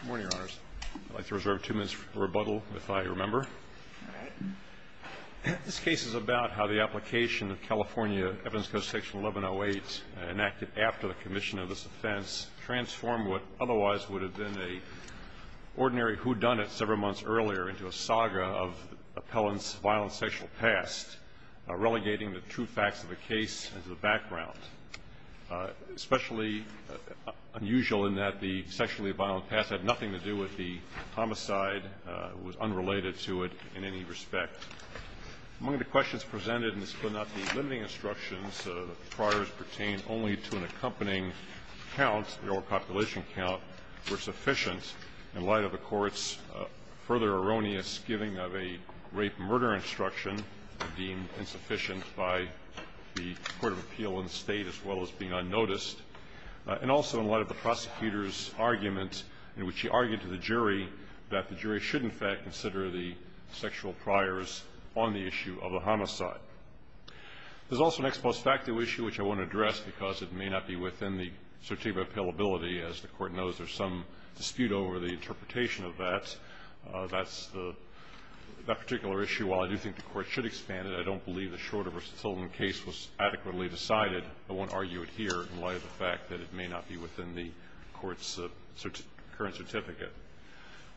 Good morning, Your Honors. I'd like to reserve two minutes for rebuttal, if I remember. All right. This case is about how the application of California Evidence against Section 1108, enacted after the commission of this offense, transformed what otherwise would have been an ordinary whodunit several months earlier into a saga of appellants' violent sexual past, relegating the true facts of the case into the background, especially unusual in that the sexually violent past had nothing to do with the homicide, was unrelated to it in any respect. Among the questions presented in the split not the limiting instructions that the priors pertain only to an accompanying count or population count were sufficient. In light of the Court's further erroneous giving of a rape-murder instruction, deemed insufficient by the Court of Appeal and the State, as well as being unnoticed, and also in light of the prosecutor's argument in which he argued to the jury that the jury should, in fact, consider the sexual priors on the issue of the homicide. There's also an ex post facto issue which I won't address because it may not be within the certificate of appealability. As the Court knows, there's some dispute over the interpretation of that. That's the particular issue. While I do think the Court should expand it, I don't believe the Schroeder v. Sullivan case was adequately decided. I won't argue it here in light of the fact that it may not be within the Court's current certificate.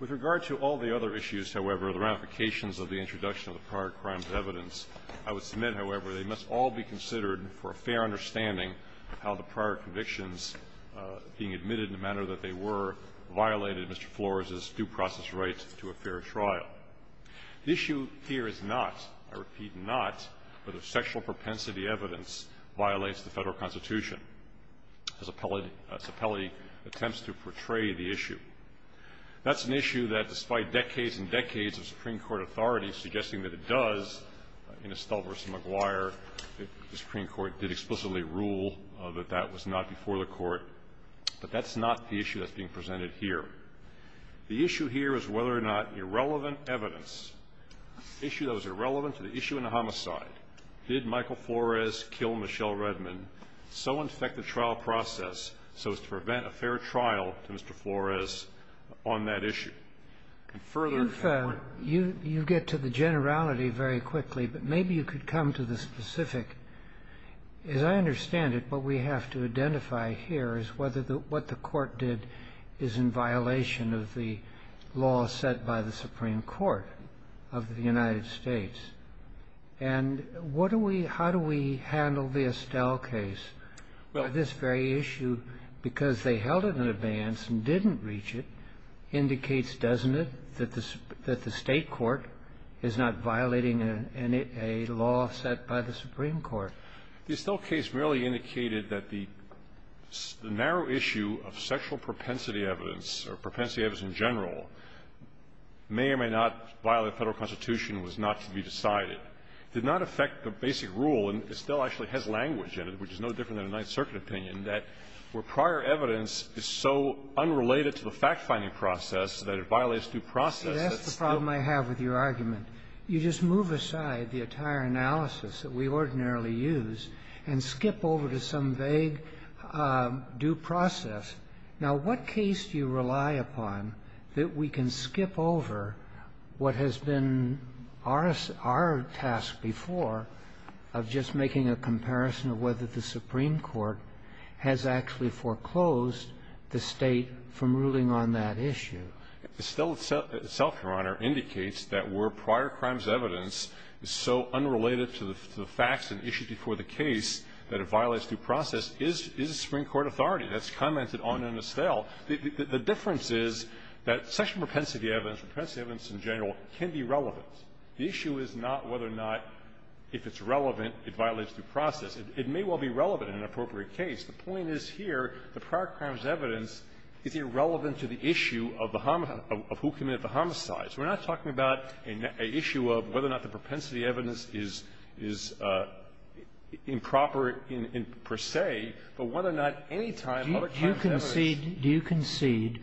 With regard to all the other issues, however, the ramifications of the introduction of the prior crimes evidence, I would submit, however, they must all be considered for a fair understanding of how the prior convictions, being admitted in the manner that they were, violated Mr. Flores's due process right to a fair trial. The issue here is not, I repeat not, whether sexual propensity evidence violates the Federal Constitution, as Appellee attempts to portray the issue. That's an issue that, despite decades and decades of Supreme Court authority suggesting that it does, in Estell v. McGuire, the Supreme Court did explicitly rule that that was not before the Court. But that's not the issue that's being presented here. The issue here is whether or not irrelevant evidence, the issue that was irrelevant to the issue in the homicide, did Michael Flores kill Michelle Redmond, so infect the trial process so as to prevent a fair trial to Mr. Flores on that issue. And further, if I were to ---- You get to the generality very quickly, but maybe you could come to the specific. As I understand it, what we have to identify here is whether the ---- what the Court did is in violation of the law set by the Supreme Court of the United States. And what do we ---- how do we handle the Estell case? This very issue, because they held it in advance and didn't reach it, indicates, doesn't it, that the State court is not violating a law set by the Supreme Court? The Estell case merely indicated that the narrow issue of sexual propensity evidence or propensity evidence in general may or may not violate Federal Constitution, was not to be decided. It did not affect the basic rule, and Estell actually has language in it, which is no different than a Ninth Circuit opinion, that where prior evidence is so unrelated to the fact-finding process that it violates due process. That's the problem I have with your argument. You just move aside the entire analysis that we ordinarily use and skip over to some vague due process. Now, what case do you rely upon that we can skip over what has been our task before of just making a comparison of whether the Supreme Court has actually foreclosed the State from ruling on that issue? Estell itself, Your Honor, indicates that where prior crimes evidence is so unrelated to the facts and issues before the case that it violates due process is the Supreme Court authority. That's commented on in Estell. The difference is that sexual propensity evidence, propensity evidence in general, can be relevant. The issue is not whether or not, if it's relevant, it violates due process. It may well be relevant in an appropriate case. The point is here, the prior crimes evidence is irrelevant to the issue of the homo of who committed the homicides. We're not talking about an issue of whether or not the propensity evidence is improper per se, but whether or not any time other kinds of evidence. Do you concede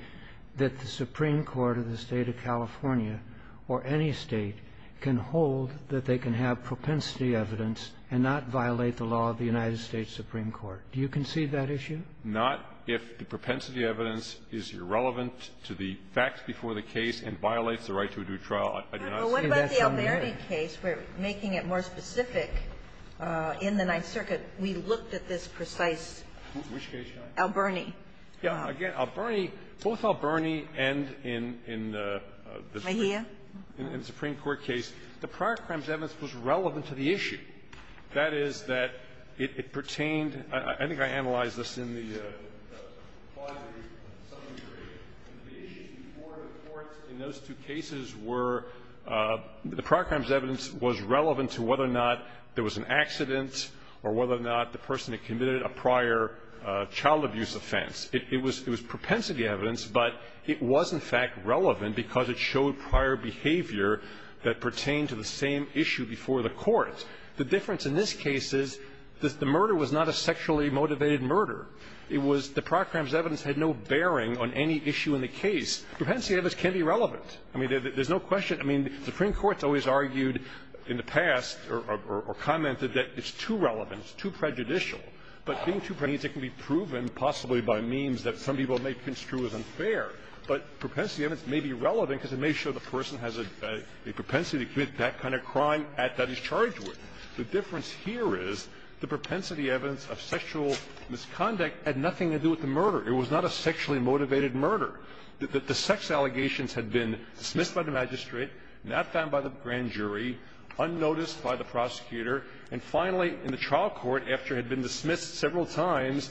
that the Supreme Court of the State of California or any State can hold that they can have propensity evidence and not violate the law of the United Do you concede that issue? Not if the propensity evidence is irrelevant to the facts before the case and violates the right to a due trial. I did not say that's on there. Well, what about the Alberni case? We're making it more specific. In the Ninth Circuit, we looked at this precise Alberni. Yeah. Again, Alberni, both Alberni and in the Supreme Court case, the prior crimes evidence was relevant to the issue. That is that it pertained to the issue before the court in those two cases where the prior crimes evidence was relevant to whether or not there was an accident or whether or not the person had committed a prior child abuse offense. It was propensity evidence, but it was in fact relevant because it showed prior behavior that pertained to the same issue before the court. The difference in this case is that the murder was not a sexually motivated murder. It was the prior crimes evidence had no bearing on any issue in the case. Propensity evidence can be relevant. I mean, there's no question. I mean, the Supreme Court's always argued in the past or commented that it's too relevant, it's too prejudicial, but being too prejudicial can be proven possibly by means that some people may construe as unfair. But propensity evidence may be relevant because it may show the person has a propensity to commit that kind of crime that he's charged with. The difference here is the propensity evidence of sexual misconduct had nothing to do with the murder. It was not a sexually motivated murder. The sex allegations had been dismissed by the magistrate, not found by the grand jury, unnoticed by the prosecutor, and finally in the trial court, after it had been dismissed several times,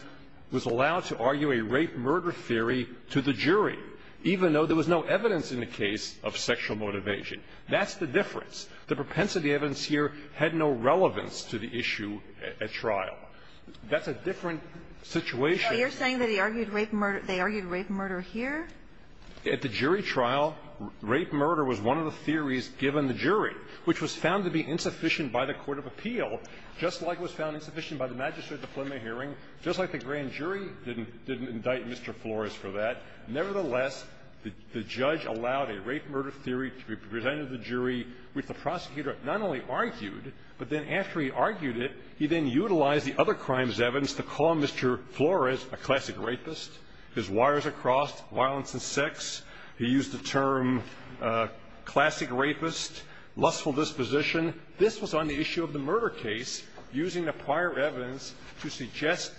was allowed to argue a rape-murder theory to the jury, even though there was no evidence in the case of sexual motivation. That's the difference. The propensity evidence here had no relevance to the issue at trial. That's a different situation. Kagan. You're saying that he argued rape-murder, they argued rape-murder here? At the jury trial, rape-murder was one of the theories given the jury, which was found to be insufficient by the court of appeal, just like it was found insufficient by the magistrate diploma hearing, just like the grand jury didn't indict Mr. Flores for that. Nevertheless, the judge allowed a rape-murder theory to be presented to the jury, which the prosecutor not only argued, but then after he argued it, he then utilized the other crimes evidence to call Mr. Flores a classic rapist. His wires are crossed, violence and sex. He used the term classic rapist, lustful disposition. This was on the issue of the murder case, using the prior evidence to suggest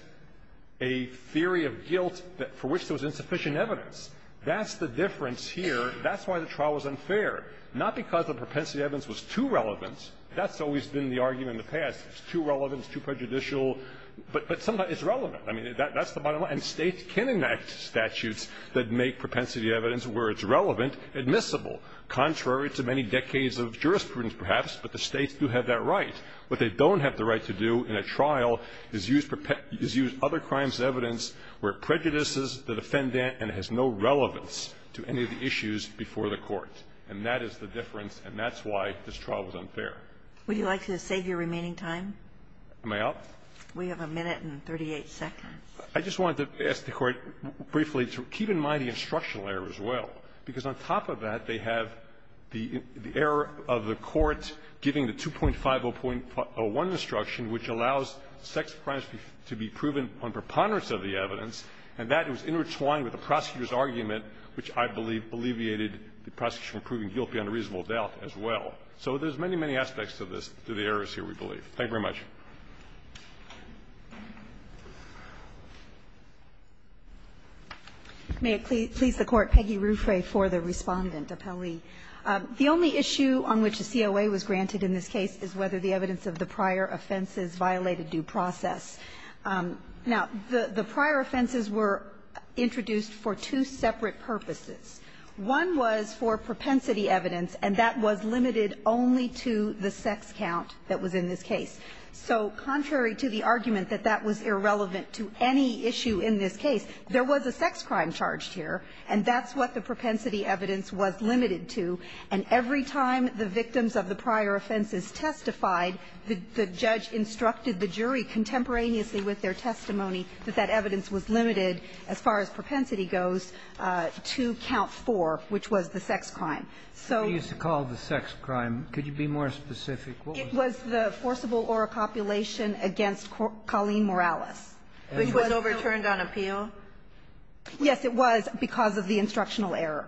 a theory of guilt for which there was insufficient evidence. That's the difference here. That's why the trial was unfair, not because the propensity evidence was too relevant. That's always been the argument in the past. It's too relevant, it's too prejudicial, but sometimes it's relevant. I mean, that's the bottom line. And States can enact statutes that make propensity evidence, where it's relevant, admissible, contrary to many decades of jurisprudence, perhaps, but the States do have that right. What they don't have the right to do in a trial is use other crimes evidence where it prejudices the defendant and has no relevance to any of the issues before the Court. And that is the difference, and that's why this trial was unfair. Would you like to save your remaining time? Am I out? We have a minute and 38 seconds. I just wanted to ask the Court briefly to keep in mind the instructional error as well, because on top of that, they have the error of the Court giving the 2.50.01 instruction, which allows sex crimes to be proven on preponderance of the evidence, and that was intertwined with the prosecutor's argument, which I believe alleviated the prosecution from proving guilty under reasonable doubt as well. So there's many, many aspects to this, to the errors here, we believe. Thank you very much. May it please the Court, Peggy Ruffray, for the Respondent, appellee. The only issue on which a COA was granted in this case is whether the evidence of the prior offenses violated due process. Now, the prior offenses were introduced for two separate purposes. One was for propensity evidence, and that was limited only to the sex count that was in this case. So contrary to the argument that that was irrelevant to any issue in this case, there was a sex crime charged here, and that's what the propensity evidence was limited to. And every time the victims of the prior offenses testified, the judge instructed the jury contemporaneously with their testimony that that evidence was limited, as far as propensity goes, to count four, which was the sex crime. So you used to call it the sex crime. Could you be more specific? What was it? It was the forcible oral copulation against Colleen Morales. Which was overturned on appeal? Yes, it was, because of the instructional error.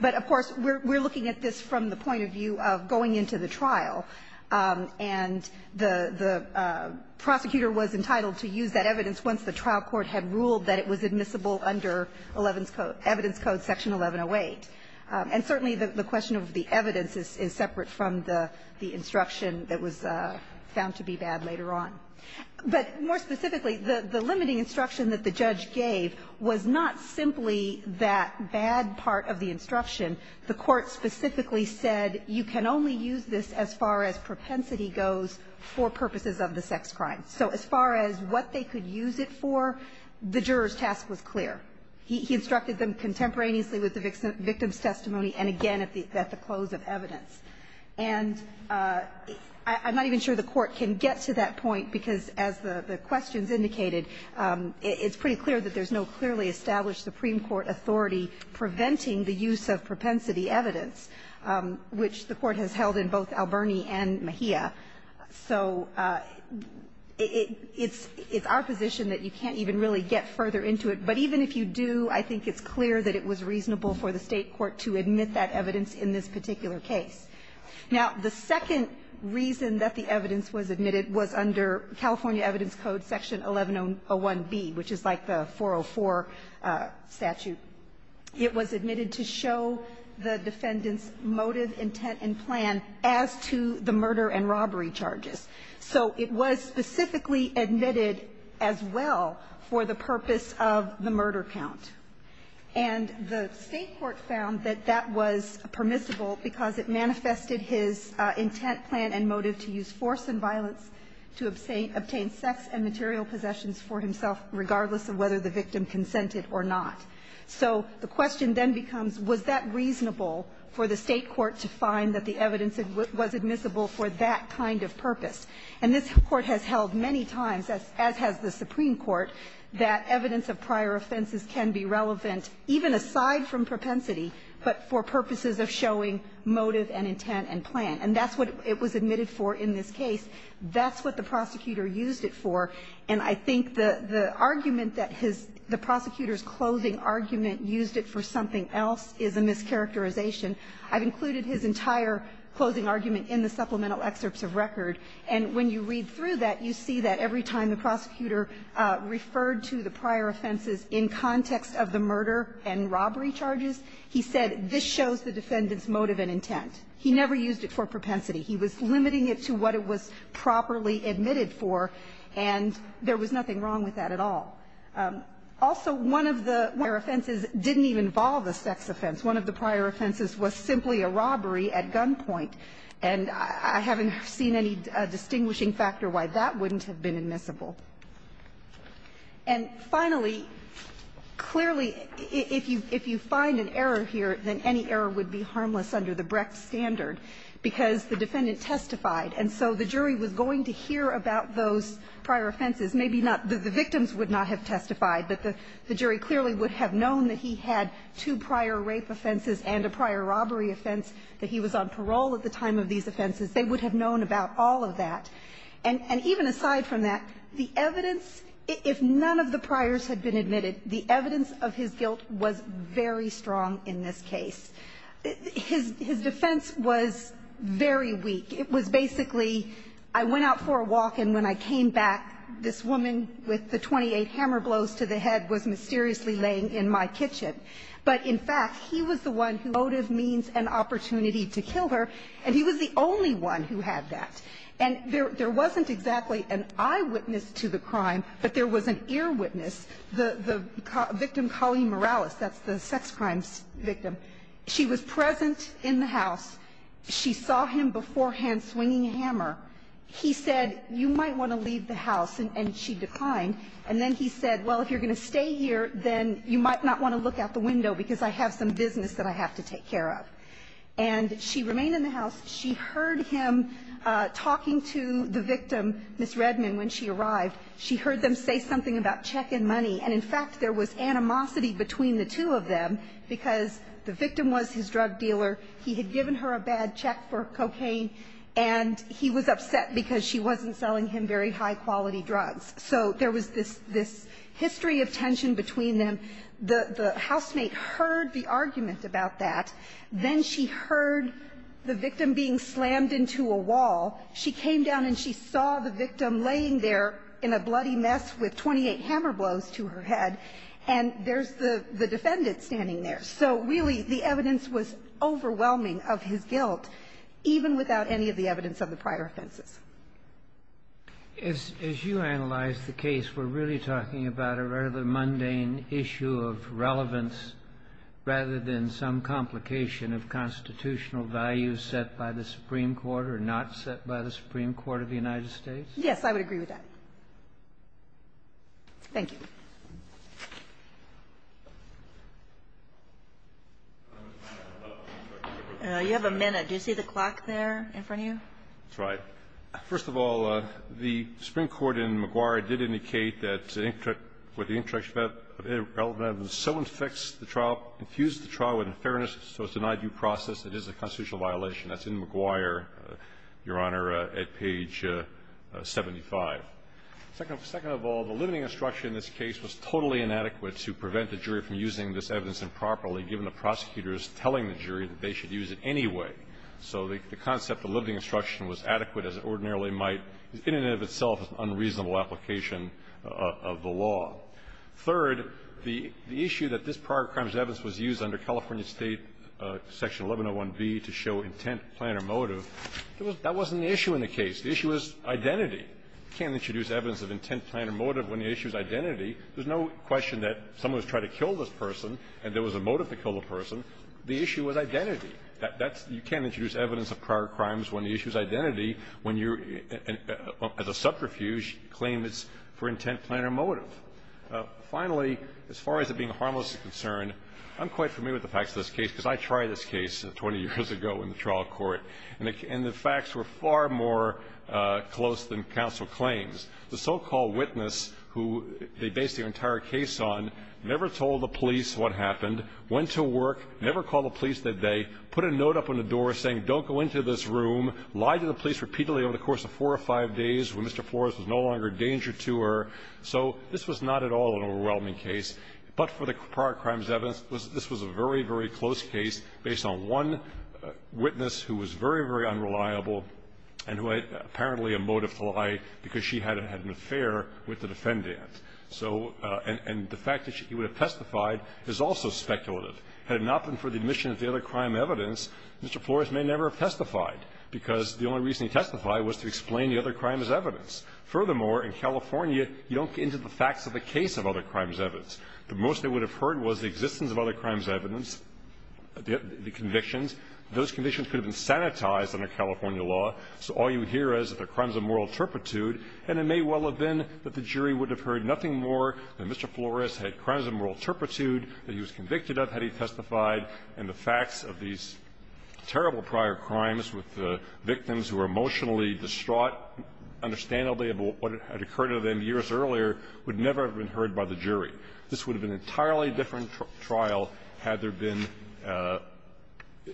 But, of course, we're looking at this from the point of view of going into the trial. And the prosecutor was entitled to use that evidence once the trial court had ruled that it was admissible under Elevens Code, Evidence Code Section 1108. And certainly the question of the evidence is separate from the instruction that was found to be bad later on. But more specifically, the limiting instruction that the judge gave was not simply that bad part of the instruction. The Court specifically said you can only use this as far as propensity goes for purposes of the sex crime. So as far as what they could use it for, the juror's task was clear. He instructed them contemporaneously with the victim's testimony, and again, at the close of evidence. And I'm not even sure the Court can get to that point, because as the questions indicated, it's pretty clear that there's no clearly established Supreme Court authority preventing the use of propensity evidence, which the Court has held in both Alberni and Mejia. So it's our position that you can't even really get further into it. But even if you do, I think it's clear that it was reasonable for the State court to admit that evidence in this particular case. Now, the second reason that the evidence was admitted was under California Code, Section 1101B, which is like the 404 statute. It was admitted to show the defendant's motive, intent, and plan as to the murder and robbery charges. So it was specifically admitted as well for the purpose of the murder count. And the State court found that that was permissible because it manifested his intent, plan, and motive to use force and violence to obtain sex and material possessions for himself, regardless of whether the victim consented or not. So the question then becomes, was that reasonable for the State court to find that the evidence was admissible for that kind of purpose? And this Court has held many times, as has the Supreme Court, that evidence of prior offenses can be relevant, even aside from propensity, but for purposes of showing motive and intent and plan. And that's what it was admitted for in this case. That's what the prosecutor used it for. And I think the argument that his the prosecutor's closing argument used it for something else is a mischaracterization. I've included his entire closing argument in the supplemental excerpts of record. And when you read through that, you see that every time the prosecutor referred to the prior offenses in context of the murder and robbery charges, he said this shows the defendant's motive and intent. He never used it for propensity. He was limiting it to what it was properly admitted for, and there was nothing wrong with that at all. Also, one of the prior offenses didn't even involve a sex offense. One of the prior offenses was simply a robbery at gunpoint. And I haven't seen any distinguishing factor why that wouldn't have been admissible. And finally, clearly, if you find an error here, then any error would be admissible. It would be harmless under the Brecht standard, because the defendant testified. And so the jury was going to hear about those prior offenses. Maybe not the victims would not have testified, but the jury clearly would have known that he had two prior rape offenses and a prior robbery offense, that he was on parole at the time of these offenses. They would have known about all of that. And even aside from that, the evidence, if none of the priors had been admitted, the evidence of his guilt was very strong in this case. His defense was very weak. It was basically, I went out for a walk, and when I came back, this woman with the 28 hammer blows to the head was mysteriously laying in my kitchen. But in fact, he was the one who motive means an opportunity to kill her, and he was the only one who had that. And there wasn't exactly an eyewitness to the crime, but there was an earwitness, the victim, Colleen Morales, that's the sex crimes victim. She was present in the house. She saw him beforehand swinging a hammer. He said, you might want to leave the house, and she declined. And then he said, well, if you're going to stay here, then you might not want to look out the window because I have some business that I have to take care of. And she remained in the house. She heard him talking to the victim, Ms. Redman, when she arrived. She heard them say something about check and money. And in fact, there was animosity between the two of them because the victim was his drug dealer. He had given her a bad check for cocaine, and he was upset because she wasn't selling him very high quality drugs. So there was this history of tension between them. The housemate heard the argument about that. Then she heard the victim being slammed into a wall. She came down and she saw the victim laying there in a bloody mess with 28 hammer blows to her head, and there's the defendant standing there. So really, the evidence was overwhelming of his guilt, even without any of the evidence of the prior offenses. As you analyze the case, we're really talking about a rather mundane issue of relevance rather than some complication of constitutional values set by the Supreme Court or not set by the Supreme Court of the United States? Yes, I would agree with that. Thank you. You have a minute. Do you see the clock there in front of you? That's right. First of all, the Supreme Court in McGuire did indicate that with the introduction of irrelevance, someone fixed the trial, infused the trial with unfairness, so it's a non-due process. It is a constitutional violation. That's in McGuire, Your Honor, at page 75. Second of all, the limiting instruction in this case was totally inadequate to prevent the jury from using this evidence improperly, given the prosecutors telling the jury that they should use it anyway. So the concept of limiting instruction was adequate as it ordinarily might, in and of itself an unreasonable application of the law. Third, the issue that this prior crimes evidence was used under California State section 1101B to show intent, plan or motive, that wasn't the issue in the case. The issue was identity. You can't introduce evidence of intent, plan or motive when the issue is identity. There's no question that someone was trying to kill this person and there was a motive to kill the person. The issue was identity. That's you can't introduce evidence of prior crimes when the issue is identity when you're, as a subterfuge, claim it's for intent, plan or motive. Finally, as far as it being harmless is concerned, I'm quite familiar with the facts of this case because I tried this case 20 years ago in the trial court, and the facts were far more close than counsel claims. The so-called witness who they based their entire case on never told the police what happened, went to work, never called the police that day, put a note up on the door saying don't go into this room, lied to the police repeatedly over the course of four or five days when Mr. Flores was no longer a danger to her. So this was not at all an overwhelming case. But for the prior crimes evidence, this was a very, very close case based on one witness who was very, very unreliable and who had apparently a motive to lie because she had an affair with the defendant. So the fact that he would have testified is also speculative. Had it not been for the admission of the other crime evidence, Mr. Flores may never have testified because the only reason he testified was to explain the other crime's evidence. Furthermore, in California, you don't get into the facts of the case of other crimes evidence. The most they would have heard was the existence of other crimes evidence, the convictions. Those convictions could have been sanitized under California law. So all you hear is that they're crimes of moral turpitude, and it may well have been that the jury would have heard nothing more than Mr. Flores had crimes of moral turpitude, that he was convicted of had he testified, and the facts of these terrible prior crimes with the victims who were emotionally distraught, understandably, of what had occurred to them years earlier, would never have been heard by the jury. This would have been an entirely different trial had there been –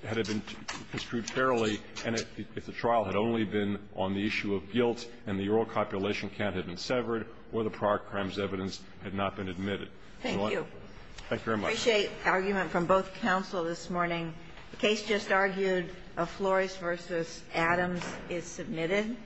had there been a trial that had been construed fairly, and if the trial had only been on the issue of guilt and the oral copulation count had been severed or the prior crimes evidence had not been admitted. Thank you. I appreciate argument from both counsel this morning. The case just argued of Flores v. Adams is submitted.